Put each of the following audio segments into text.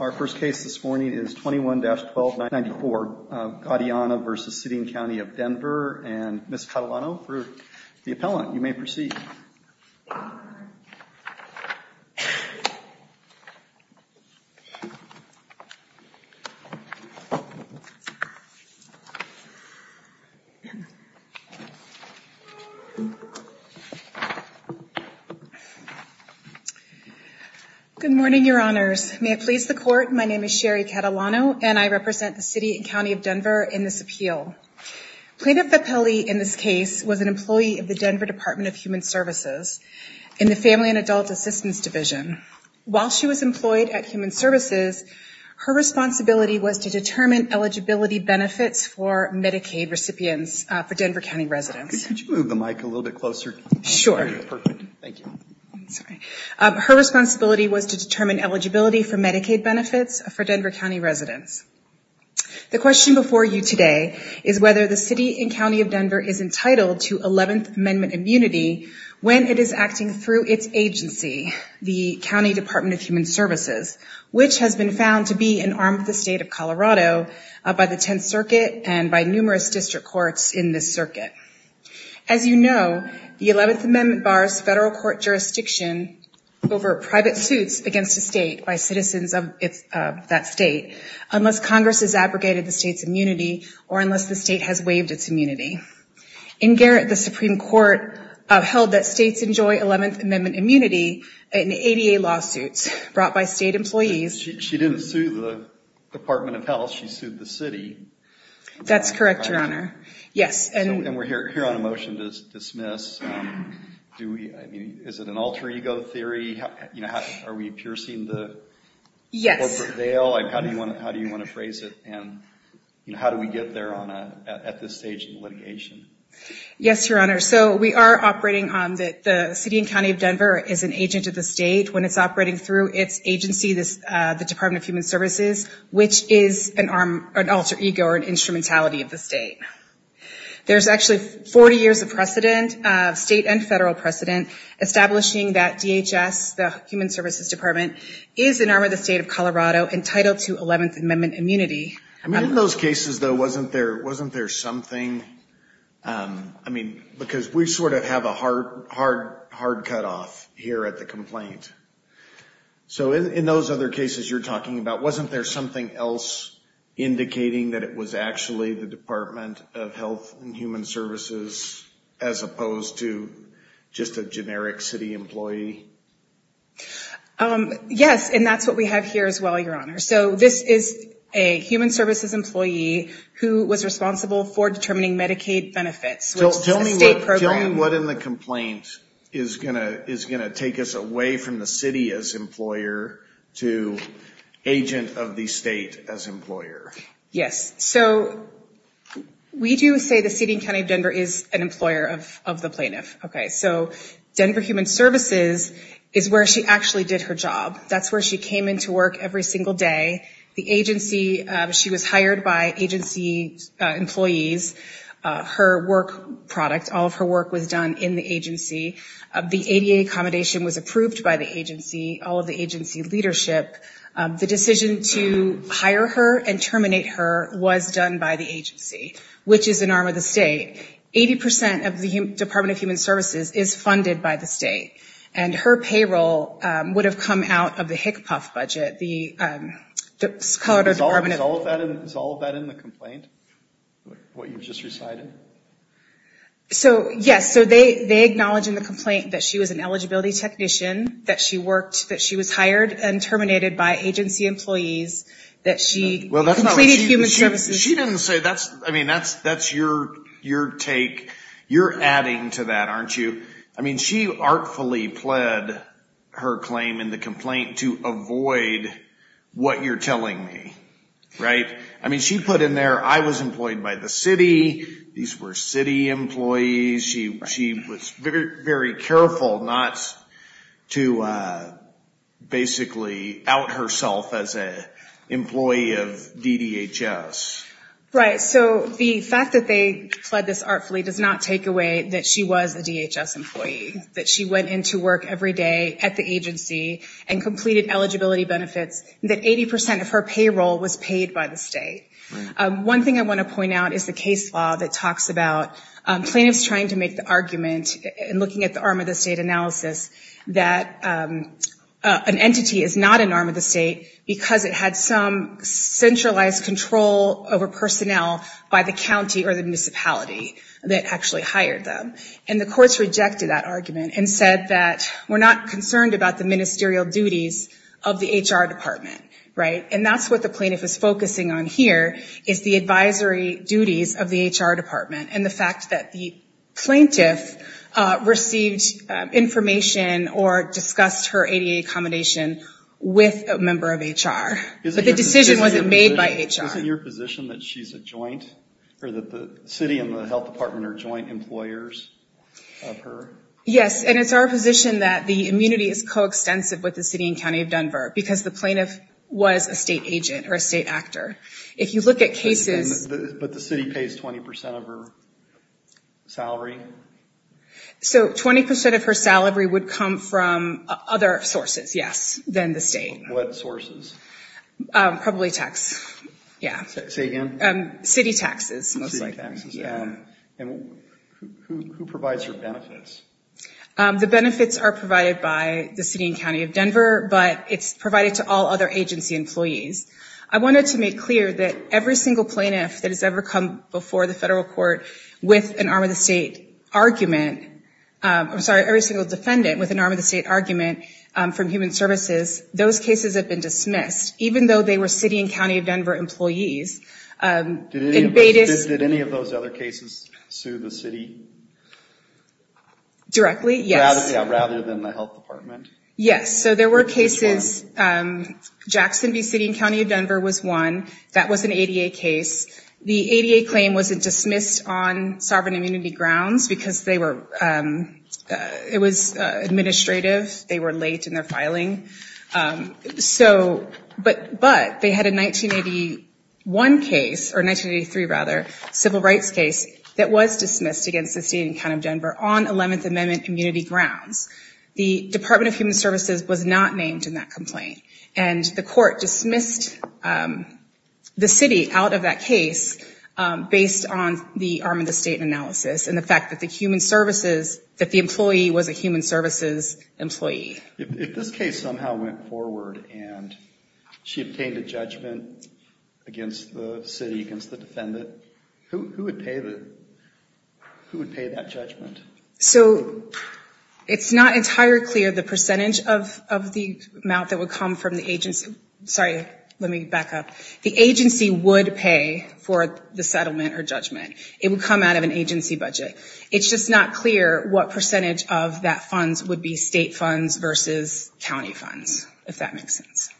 Our first case this morning is 21-12-94, Guadiana v. City and County of Denver, and Ms. Catalano for the appellant, you may proceed. Good morning, your honors. May it please the court, my name is Sherry Catalano, and I represent the City and County of Denver in this appeal. Plaintiff Vepelli, in this case, was an employee of the Denver Department of Human Services in the Family and Adult Assistance Division. While she was employed at Human Services, her responsibility was to determine eligibility benefits for Medicaid recipients for Denver County residents. Her responsibility was to determine eligibility for Medicaid benefits for Denver County residents. The question before you today is whether the City and County of Denver is entitled to 11th Amendment immunity when it is acting through its agency, the County Department of Human Services, which has been found to be an arm of the state of Colorado by the Tenth Circuit and by numerous district courts in this circuit. As you know, the 11th Amendment bars federal court jurisdiction over private suits against a state by citizens of that state unless Congress has abrogated the state's immunity or unless the state has waived its immunity. In Garrett, the Supreme Court held that states enjoy 11th Amendment immunity in ADA lawsuits brought by state employees. She didn't sue the Department of Health, she sued the City. That's correct, your honor. Yes. And we're here on a motion to dismiss. Is it an alter ego theory? Are we piercing the corporate veil? Yes. How do you want to phrase it? And how do we get there at this stage in litigation? Yes, your honor. So we are operating on the City and County of Denver is an agent of the state when it's operating through its agency, the Department of Human Services, which is an alter ego or an instrumentality of the state. There's actually 40 years of precedent, state and federal precedent, establishing that DHS, the Human Services Department, is an arm of the state of Colorado entitled to 11th Amendment immunity. I mean, in those cases, though, wasn't there something? I mean, because we sort of have a hard, hard, hard cutoff here at the complaint. So in those other cases you're talking about, wasn't there something else indicating that it was actually the Department of Health and Human Services as opposed to just a generic city employee? Yes. And that's what we have here as well, your honor. So this is a human services employee who was responsible for determining Medicaid benefits, which is a state program. Tell me what in the complaint is going to take us away from the city as employer to agent of the state as employer. Yes. So we do say the city and county of Denver is an employer of the plaintiff. Okay. So Denver Human Services is where she actually did her job. That's where she came into work every single day. The agency, she was hired by agency employees. Her work product, all of her work was done in the agency. The ADA accommodation was approved by the agency, all of the agency leadership. The decision to hire her and terminate her was done by the agency, which is an arm of the state. Eighty percent of the Department of Human Services is funded by the state, and her payroll would have come out of the HICPUF budget. Is all of that in the complaint, what you just recited? So, yes. So they acknowledge in the complaint that she was an eligibility technician, that she worked, that she was hired and terminated by agency employees, that she completed human services. She didn't say that. I mean, that's your take. You're adding to that, aren't you? I mean, she artfully pled her claim in the complaint to avoid what you're telling me, right? I mean, she put in there, I was employed by the city, these were city employees. She was very careful not to basically out herself as an employee of DDHS. Right. So the fact that they pled this artfully does not take away that she was a DHS employee, that she went into work every day at the agency and completed eligibility benefits, that 80 percent of her payroll was paid by the state. One thing I want to point out is the case law that talks about plaintiffs trying to make the argument and looking at the arm of the state analysis that an entity is not an arm of the state because it had some centralized control over personnel by the county or the municipality that actually hired them. And the courts rejected that argument and said that we're not concerned about the ministerial duties of the HR department, right? And that's what the plaintiff is focusing on here is the advisory duties of the HR department and the fact that the plaintiff received information or discussed her ADA accommodation with a member of HR. But the decision wasn't made by HR. Isn't your position that she's a joint, or that the city and the health department are joint employers of her? Yes. And it's our position that the immunity is coextensive with the city and county of Denver because the plaintiff was a state agent or a state actor. If you look at cases. But the city pays 20 percent of her salary? So 20 percent of her salary would come from other sources, yes, than the state. What sources? Probably tax, yeah. Say again? City taxes. City taxes, yeah. And who provides her benefits? The benefits are provided by the city and county of Denver, but it's provided to all other agency employees. I wanted to make clear that every single plaintiff that has ever come before the federal court with an arm of the state argument, I'm sorry, every single defendant with an arm of the state argument from human services, those cases have been dismissed, even though they were city and county of Denver employees. Did any of those other cases sue the city? Directly, yes. Rather than the health department? Yes. So there were cases. Jackson v. City and County of Denver was one. That was an ADA case. The ADA claim was dismissed on sovereign immunity grounds because it was administrative, they were late in their filing. But they had a 1981 case, or 1983 rather, civil rights case that was dismissed against the city and county of Denver on 11th Amendment immunity grounds. The Department of Human Services was not named in that complaint. And the court dismissed the city out of that case based on the arm of the state analysis and the fact that the human services, that the employee was a human services employee. If this case somehow went forward and she obtained a judgment against the city, against the defendant, who would pay that judgment? So it's not entirely clear the percentage of the amount that would come from the agency. Sorry, let me back up. The agency would pay for the settlement or judgment. It would come out of an agency budget. It's just not clear what percentage of that funds would be state funds versus county funds, if that makes sense.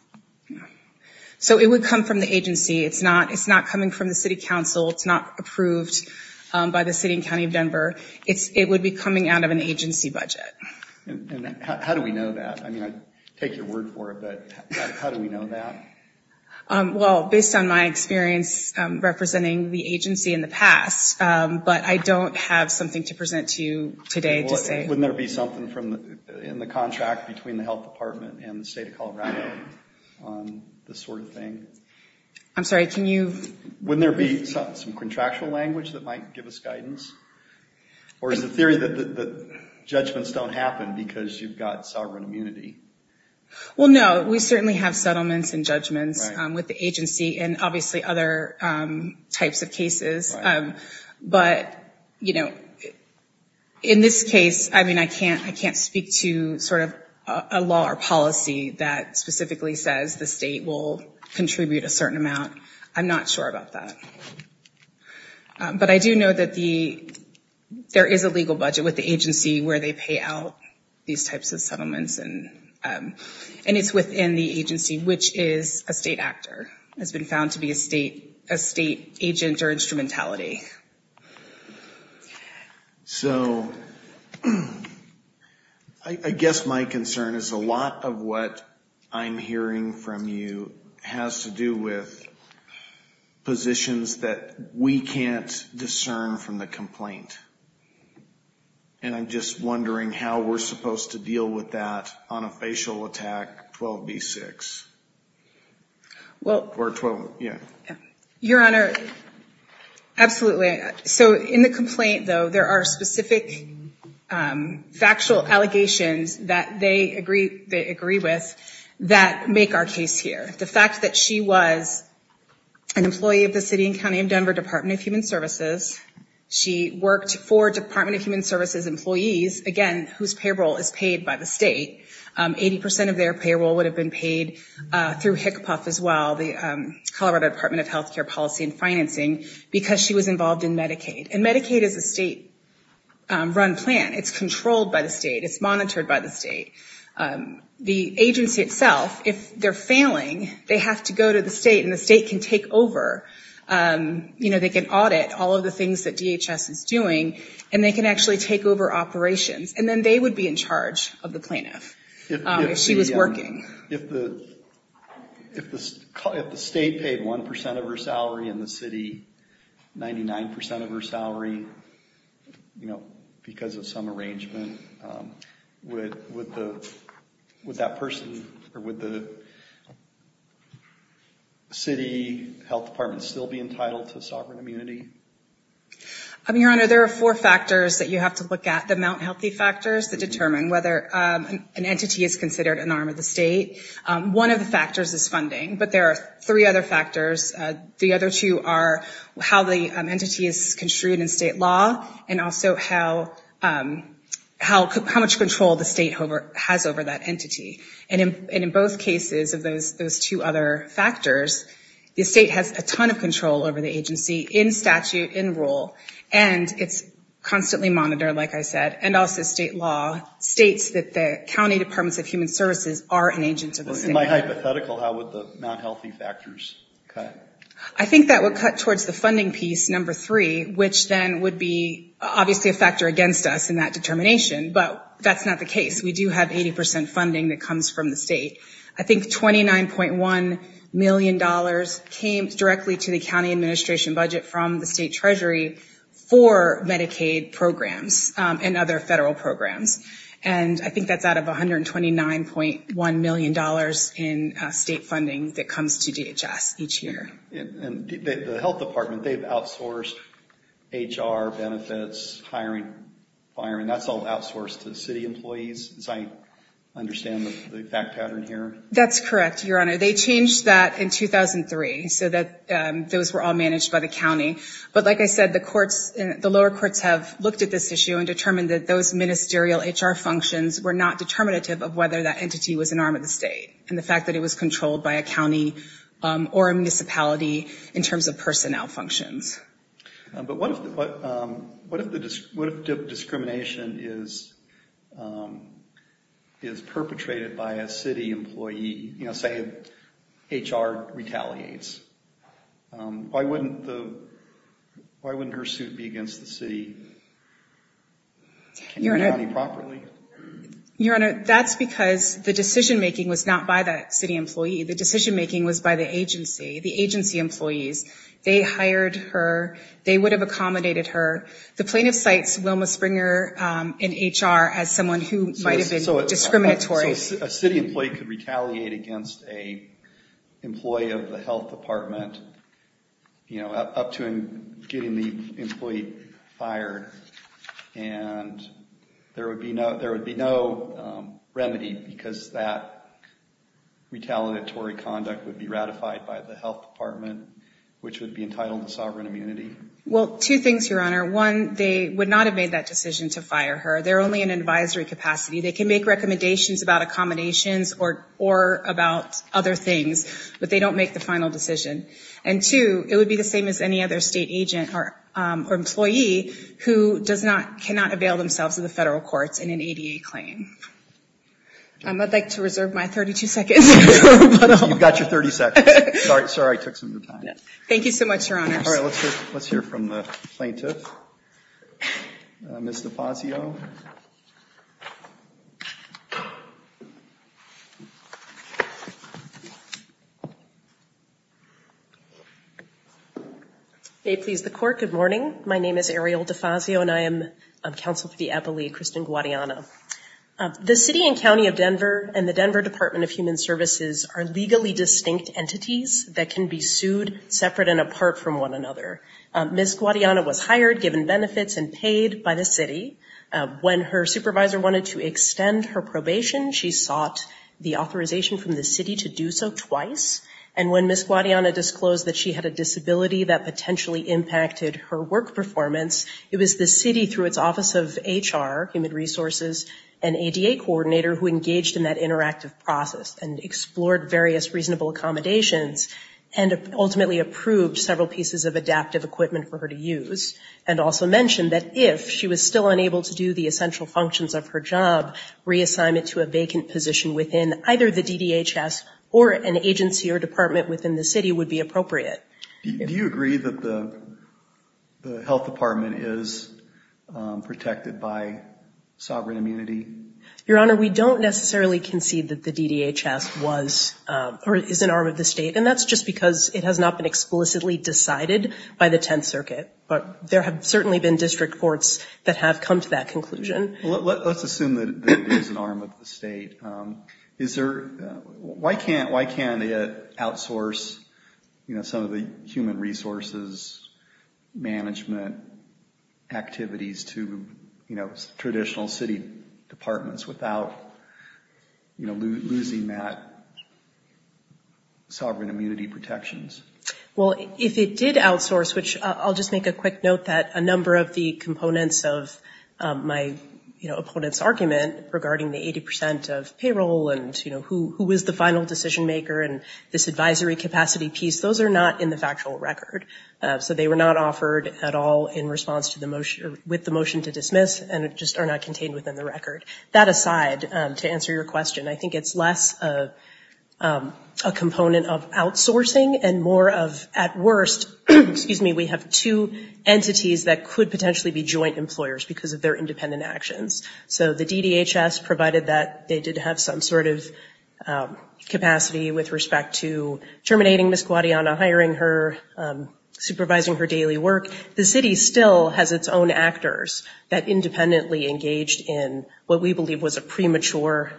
So it would come from the agency. It's not coming from the city council. It's not approved by the city and county of Denver. It would be coming out of an agency budget. And how do we know that? I mean, I'd take your word for it, but how do we know that? Well, based on my experience representing the agency in the past, but I don't have something to present to you today to say. Wouldn't there be something in the contract between the health department and the state of Colorado on this sort of thing? I'm sorry, can you? Wouldn't there be some contractual language that might give us guidance? Or is the theory that judgments don't happen because you've got sovereign immunity? Well, no, we certainly have settlements and judgments with the agency and obviously other types of cases. But, you know, in this case, I mean, I can't speak to sort of a law or policy that specifically says the state will contribute a certain amount. I'm not sure about that. But I do know that there is a legal budget with the agency where they pay out which is a state actor, has been found to be a state agent or instrumentality. So I guess my concern is a lot of what I'm hearing from you has to do with positions that we can't discern from the complaint. And I'm just wondering how we're supposed to deal with that on a facial attack 12B6. Your Honor, absolutely. So in the complaint, though, there are specific factual allegations that they agree with that make our case here. The fact that she was an employee of the City and County of Denver Department of Human Services. She worked for Department of Human Services employees, again, whose payroll is paid by the state. Eighty percent of their payroll would have been paid through HICPUF as well, the Colorado Department of Health Care Policy and Financing, because she was involved in Medicaid. And Medicaid is a state-run plan. It's controlled by the state. It's monitored by the state. The agency itself, if they're failing, they have to go to the state and the state can take over. You know, they can audit all of the things that DHS is doing, and they can actually take over operations. And then they would be in charge of the plaintiff if she was working. If the state paid one percent of her salary and the city 99 percent of her salary, you know, because of some arrangement, would that person, or would the city health department still be entitled to sovereign immunity? Your Honor, there are four factors that you have to look at, the Mount Healthy factors that determine whether an entity is considered an arm of the state. One of the factors is funding, but there are three other factors. The other two are how the entity is construed in state law, and also how much control the state has over that entity. And in both cases of those two other factors, the state has a ton of control over the agency in statute, in rule, and it's constantly monitored, like I said, and also state law states that the county departments of human services are an agent of the state. In my hypothetical, how would the Mount Healthy factors cut? I think that would cut towards the funding piece, number three, which then would be obviously a factor against us in that determination, but that's not the case. We do have 80% funding that comes from the state. I think $29.1 million came directly to the county administration budget from the state treasury for Medicaid programs and other federal programs, and I think that's out of $129.1 million in state funding that comes to DHS each year. The health department, they've outsourced HR benefits, hiring, and that's all outsourced to city employees, as I understand the fact pattern here. That's correct, Your Honor. They changed that in 2003 so that those were all managed by the county, but like I said, the courts, the lower courts have looked at this issue and determined that those ministerial HR functions were not determinative of whether that entity was an arm of the state and the fact that it was controlled by a county or a municipality in terms of personnel functions. But what if discrimination is perpetrated by a city employee, say HR retaliates? Why wouldn't her suit be against the city and the county properly? Your Honor, that's because the decision-making was not by that city employee. The decision-making was by the agency, the agency employees. They hired her. They would have accommodated her. The plaintiff cites Wilma Springer in HR as someone who might have been discriminatory. So a city employee could retaliate against an employee of the health department, up to getting the employee fired, and there would be no remedy because that retaliatory conduct would be ratified by the health department, which would be entitled to sovereign immunity. Well, two things, Your Honor. One, they would not have made that decision to fire her. They're only in advisory capacity. They can make recommendations about accommodations or about other things, but they don't make the final decision. And two, it would be the same as any other state agent or employee who cannot avail themselves of the federal courts in an ADA claim. I'd like to reserve my 32 seconds. You've got your 30 seconds. Sorry, I took some of your time. Thank you so much, Your Honor. All right. Let's hear from the plaintiff, Ms. DeFazio. May it please the Court, good morning. My name is Ariel DeFazio, and I am counsel for the appellee, Kristen Guadiana. The city and county of Denver and the Denver Department of Human Services are legally distinct entities that can be sued separate and apart from one another. Ms. Guadiana was hired, given benefits, and paid by the city. When her supervisor wanted to extend her probation, she sought the authorization from the city to do so twice. And when Ms. Guadiana disclosed that she had a disability that potentially impacted her work performance, it was the city, through its Office of HR, Human Resources, and ADA coordinator who engaged in that interactive process and explored various reasonable accommodations and ultimately approved several pieces of adaptive equipment for her to use and also mentioned that if she was still unable to do the essential functions of her job, reassignment to a vacant position within either the DDHS or an agency or department within the city would be appropriate. Do you agree that the Health Department is protected by sovereign immunity? Your Honor, we don't necessarily concede that the DDHS was or is an arm of the state, and that's just because it has not been explicitly decided by the Tenth Circuit, but there have certainly been district courts that have come to that conclusion. Let's assume that it is an arm of the state. Why can't it outsource some of the human resources management activities to traditional city departments without losing that sovereign immunity protections? Well, if it did outsource, which I'll just make a quick note that a number of the components of my opponent's argument regarding the 80 percent of payroll and who is the final decision maker and this advisory capacity piece, those are not in the factual record. So they were not offered at all in response to the motion, with the motion to dismiss, and just are not contained within the record. That aside, to answer your question, I think it's less a component of outsourcing and more of at worst, excuse me, we have two entities that could potentially be joint employers because of their independent actions. So the DDHS provided that they did have some sort of capacity with respect to terminating Miss Guadiana, hiring her, supervising her daily work. The city still has its own actors that independently engaged in what we believe was a premature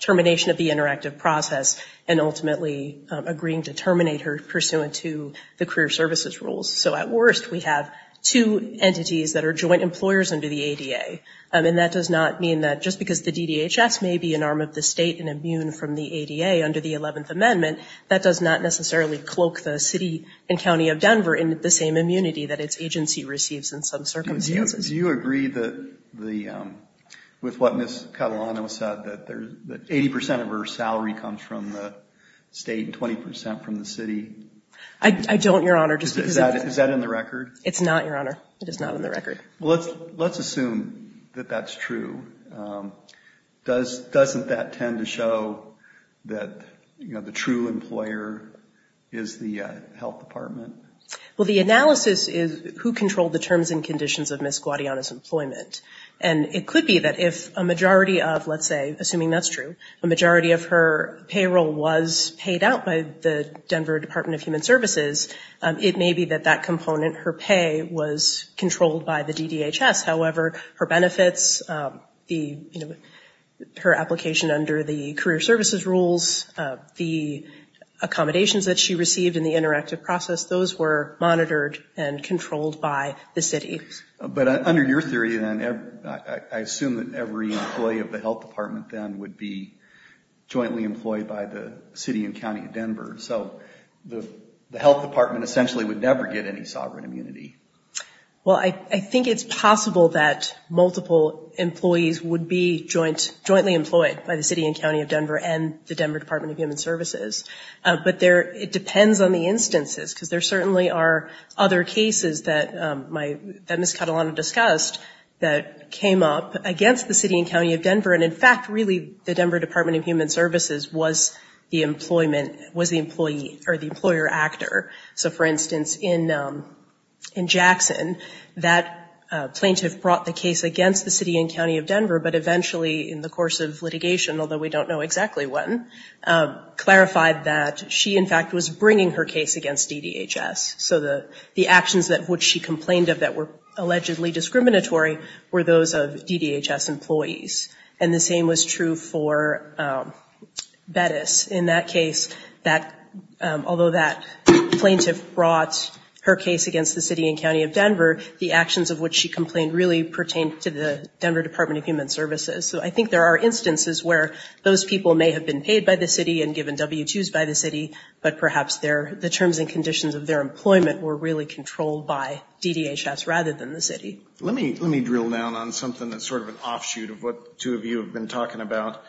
termination of the interactive process and ultimately agreeing to terminate her pursuant to the career services rules. So at worst, we have two entities that are joint employers under the ADA. And that does not mean that just because the DDHS may be an arm of the state and immune from the ADA under the 11th Amendment, that does not necessarily cloak the city and county of Denver in the same immunity that its agency receives in some circumstances. Do you agree with what Miss Catalano said, that 80% of her salary comes from the state and 20% from the city? I don't, Your Honor. Is that in the record? It's not, Your Honor. It is not in the record. Let's assume that that's true. Doesn't that tend to show that the true employer is the health department? Well, the analysis is who controlled the terms and conditions of Miss Guadiana's employment. And it could be that if a majority of, let's say, assuming that's true, a majority of her payroll was paid out by the Denver Department of Human Services, it may be that that component, her pay, was controlled by the DDHS. However, her benefits, her application under the career services rules, the accommodations that she received in the interactive process, those were monitored and controlled by the city. But under your theory, then, I assume that every employee of the health department, then, would be jointly employed by the city and county of Denver. So the health department essentially would never get any sovereign immunity. Well, I think it's possible that multiple employees would be jointly employed by the city and county of Denver and the Denver Department of Human Services. But it depends on the instances, because there certainly are other cases that Miss Catalano discussed that came up against the city and county of Denver. And, in fact, really the Denver Department of Human Services was the employer actor. So, for instance, in Jackson, that plaintiff brought the case against the city and county of Denver, but eventually, in the course of litigation, although we don't know exactly when, clarified that she, in fact, was bringing her case against DDHS. So the actions of which she complained of that were allegedly discriminatory were those of DDHS employees. And the same was true for Bettis. In that case, although that plaintiff brought her case against the city and county of Denver, the actions of which she complained really pertained to the Denver Department of Human Services. So I think there are instances where those people may have been paid by the city and given W-2s by the city, but perhaps the terms and conditions of their employment were really controlled by DDHS rather than the city. Let me drill down on something that's sort of an offshoot of what the two of you have been talking about.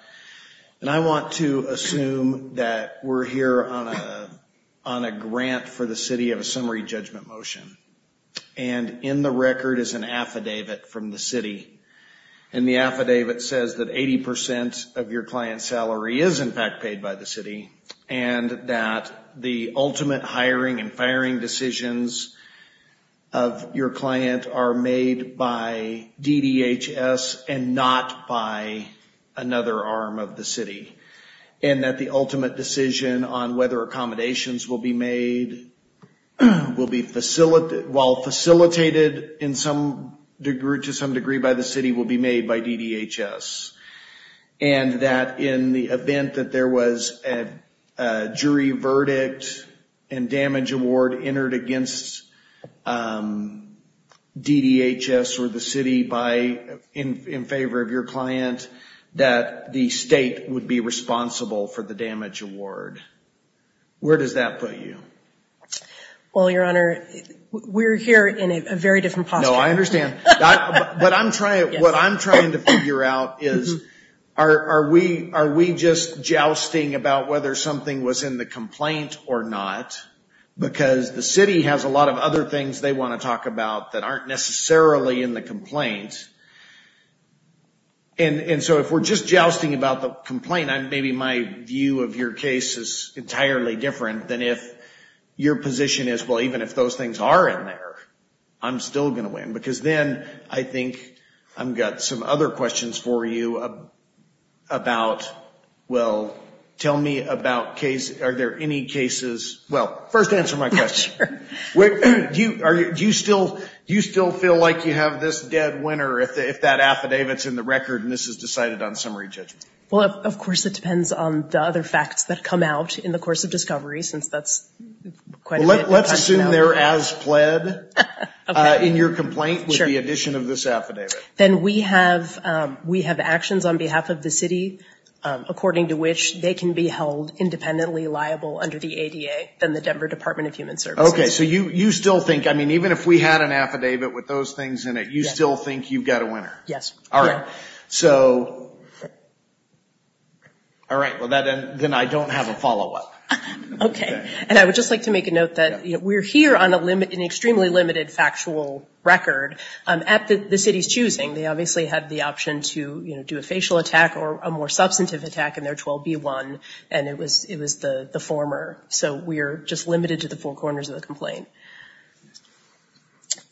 And I want to assume that we're here on a grant for the city of a summary judgment motion. And in the record is an affidavit from the city. And the affidavit says that 80% of your client's salary is, in fact, paid by the city, and that the ultimate hiring and firing decisions of your client are made by DDHS and not by another arm of the city. And that the ultimate decision on whether accommodations will be made will be facilitated, while facilitated to some degree by the city, will be made by DDHS. And that in the event that there was a jury verdict and damage award entered against DDHS or the city in favor of your client, that the state would be responsible for the damage award. Where does that put you? Well, Your Honor, we're here in a very different posture. No, I understand. But what I'm trying to figure out is are we just jousting about whether something was in the complaint or not? Because the city has a lot of other things they want to talk about that aren't necessarily in the complaint. And so if we're just jousting about the complaint, maybe my view of your case is entirely different than if your position is, well, even if those things are in there, I'm still going to win. Because then I think I've got some other questions for you about, well, tell me about, are there any cases? Well, first answer my question. Sure. Do you still feel like you have this dead winner if that affidavit's in the record and this is decided on summary judgment? Well, of course it depends on the other facts that come out in the course of discovery since that's quite a bit of a possibility. Let's assume they're as pled in your complaint with the addition of this affidavit. Then we have actions on behalf of the city according to which they can be held independently liable under the ADA than the Denver Department of Human Services. Okay. So you still think, I mean, even if we had an affidavit with those things in it, you still think you've got a winner? Yes. All right. So, all right. Well, then I don't have a follow-up. Okay. And I would just like to make a note that we're here on an extremely limited factual record at the city's choosing. They obviously had the option to do a facial attack or a more substantive attack in their 12B1, and it was the former. So we're just limited to the four corners of the complaint.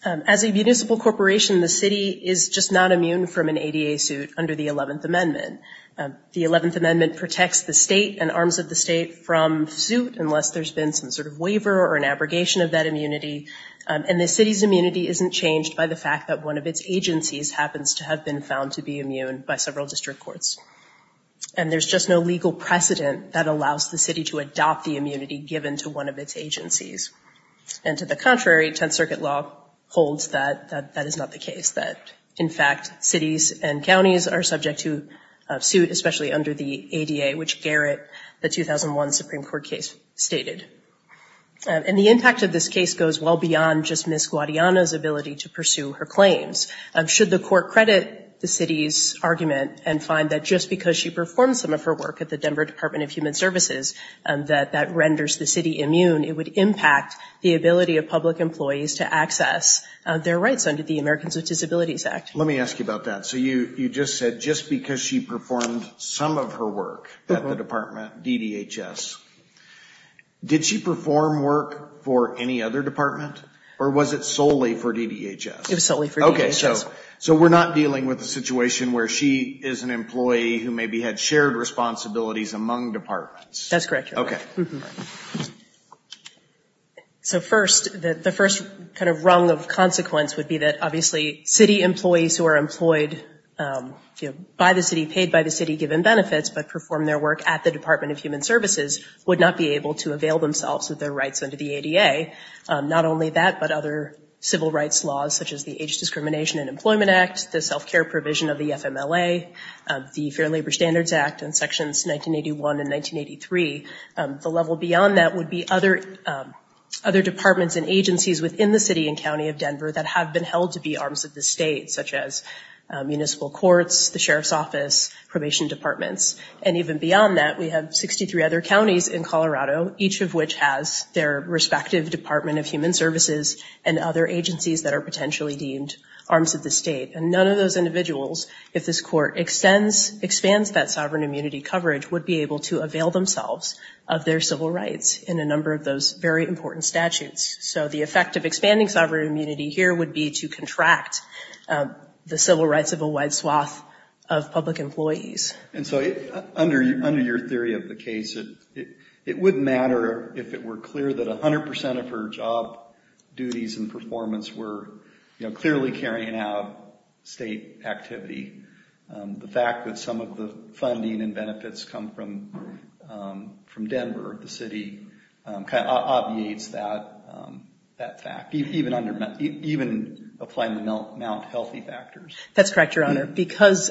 As a municipal corporation, the city is just not immune from an ADA suit under the 11th Amendment. The 11th Amendment protects the state and arms of the state from suit unless there's been some sort of waiver or an abrogation of that immunity. And the city's immunity isn't changed by the fact that one of its agencies happens to have been found to be immune by several district courts. And there's just no legal precedent that allows the city to adopt the immunity given to one of its agencies. And to the contrary, Tenth Circuit law holds that that is not the case, that, in fact, cities and counties are subject to a suit, especially under the ADA, which Garrett, the 2001 Supreme Court case, stated. And the impact of this case goes well beyond just Ms. Guadiana's ability to pursue her claims. Should the court credit the city's argument and find that just because she performed some of her work at the Denver Department of Human Services, that that renders the city immune, it would impact the ability of public employees to access their rights under the Americans with Disabilities Act? Let me ask you about that. So you just said just because she performed some of her work at the department, DDHS, did she perform work for any other department? Or was it solely for DDHS? It was solely for DDHS. Okay. So we're not dealing with a situation where she is an employee who maybe had shared responsibilities among departments? That's correct, Your Honor. Okay. So first, the first kind of rung of consequence would be that, obviously, city employees who are employed by the city, paid by the city, given benefits, but perform their work at the Department of Human Services, would not be able to avail themselves of their rights under the ADA. Not only that, but other civil rights laws, such as the Age Discrimination and Employment Act, the self-care provision of the FMLA, the Fair Labor Standards Act and Sections 1981 and 1983. The level beyond that would be other departments and agencies within the city and county of Denver that have been held to be arms of the state, such as municipal courts, the sheriff's office, probation departments. And even beyond that, we have 63 other counties in Colorado, each of which has their respective Department of Human Services and other agencies that are potentially deemed arms of the state. And none of those individuals, if this court extends, expands that sovereign immunity coverage, would be able to avail themselves of their civil rights in a number of those very important statutes. So the effect of expanding sovereign immunity here would be to contract the civil rights of a wide swath of public employees. And so under your theory of the case, it wouldn't matter if it were clear that 100 percent of her job duties and performance were clearly carrying out state activity. The fact that some of the funding and benefits come from Denver, the city, kind of obviates that fact, even applying the Mt. Healthy factors. That's correct, Your Honor, because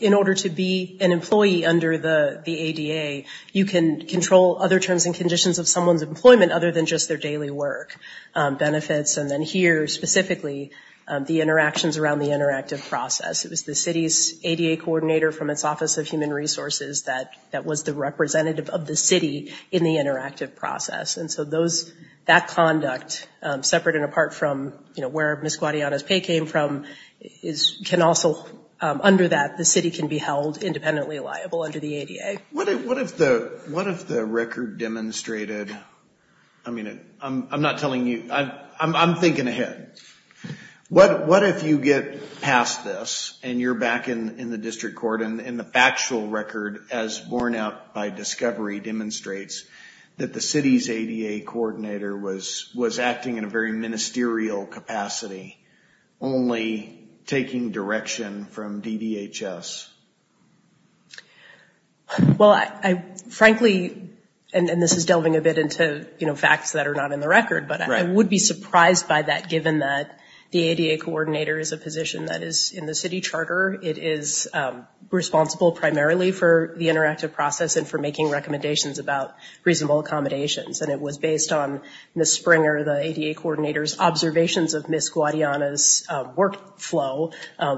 in order to be an employee under the ADA, you can control other terms and conditions of someone's employment other than just their daily work benefits. And then here, specifically, the interactions around the interactive process. It was the city's ADA coordinator from its Office of Human Resources that that was the representative of the city in the interactive process. And so that conduct, separate and apart from where Ms. Guadiana's pay came from, can also, under that, the city can be held independently liable under the ADA. What if the record demonstrated, I mean, I'm not telling you, I'm thinking ahead. What if you get past this and you're back in the district court, and the factual record as borne out by discovery demonstrates that the city's ADA coordinator was acting in a very ministerial capacity, only taking direction from DDHS? Well, I frankly, and this is delving a bit into facts that are not in the record, but I would be surprised by that given that the ADA coordinator is a position that is in the city charter. It is responsible primarily for the interactive process and for making recommendations about reasonable accommodations. And it was based on Ms. Springer, the ADA coordinator's observations of Ms. Guadiana's work flow,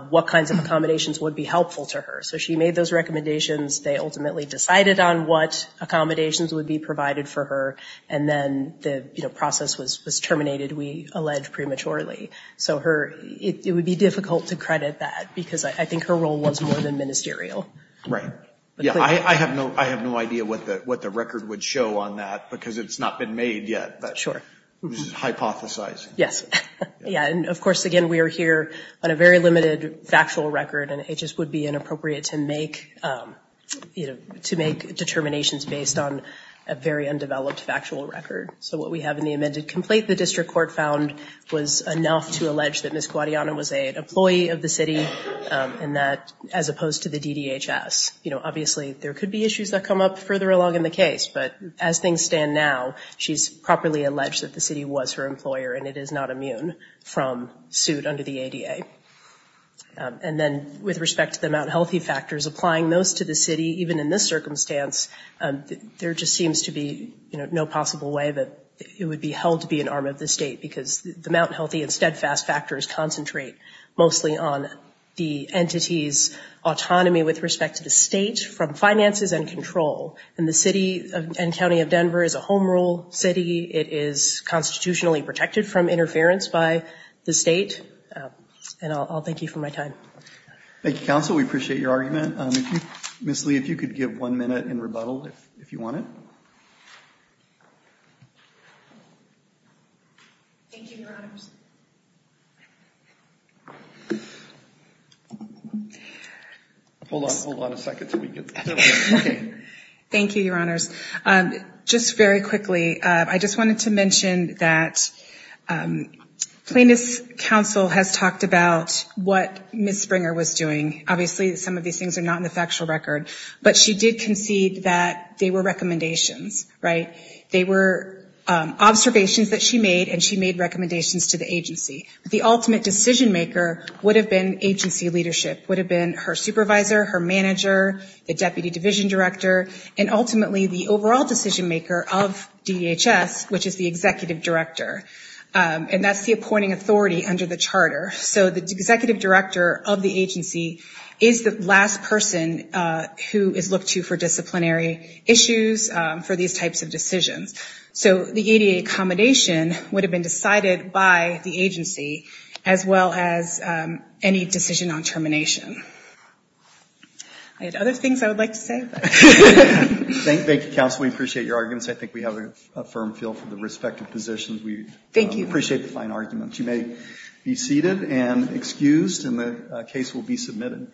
what kinds of accommodations would be helpful to her. So she made those recommendations. They ultimately decided on what accommodations would be provided for her. And then the process was terminated, we allege prematurely. So it would be difficult to credit that because I think her role was more than ministerial. Right. Yeah, I have no idea what the record would show on that because it's not been made yet. Sure. It was hypothesized. Yes. Yeah, and of course, again, we are here on a very limited factual record, and it just would be inappropriate to make determinations based on a very undeveloped factual record. So what we have in the amended complaint, the district court found, was enough to allege that Ms. Guadiana was an employee of the city as opposed to the DDHS. Obviously, there could be issues that come up further along in the case, but as things stand now, she's properly alleged that the city was her employer and it is not immune from suit under the ADA. And then with respect to the Mount Healthy factors, applying those to the city, even in this circumstance, there just seems to be no possible way that it would be held to be an arm of the state because the Mount Healthy and Steadfast factors concentrate mostly on the entity's autonomy with respect to the state from finances and control. And the city and county of Denver is a home rule city. It is constitutionally protected from interference by the state. And I'll thank you for my time. Thank you, counsel. We appreciate your argument. Ms. Lee, if you could give one minute in rebuttal, if you want it. Thank you, Your Honors. Hold on a second until we get started. Thank you, Your Honors. Just very quickly, I just wanted to mention that Plaintiffs' Counsel has talked about what Ms. Springer was doing. Obviously, some of these things are not in the factual record. But she did concede that they were recommendations, right? They were observations that she made and she made recommendations to the agency. The ultimate decision maker would have been agency leadership, would have been her supervisor, her manager, the deputy division director, and ultimately the overall decision maker of DHS, which is the executive director, and that's the appointing authority under the charter. So the executive director of the agency is the last person who is looked to for disciplinary issues for these types of decisions. So the ADA accommodation would have been decided by the agency as well as any decision on termination. I had other things I would like to say. Thank you, counsel. We appreciate your arguments. I think we have a firm feel for the respective positions. We appreciate the fine arguments. You may be seated and excused and the case will be submitted.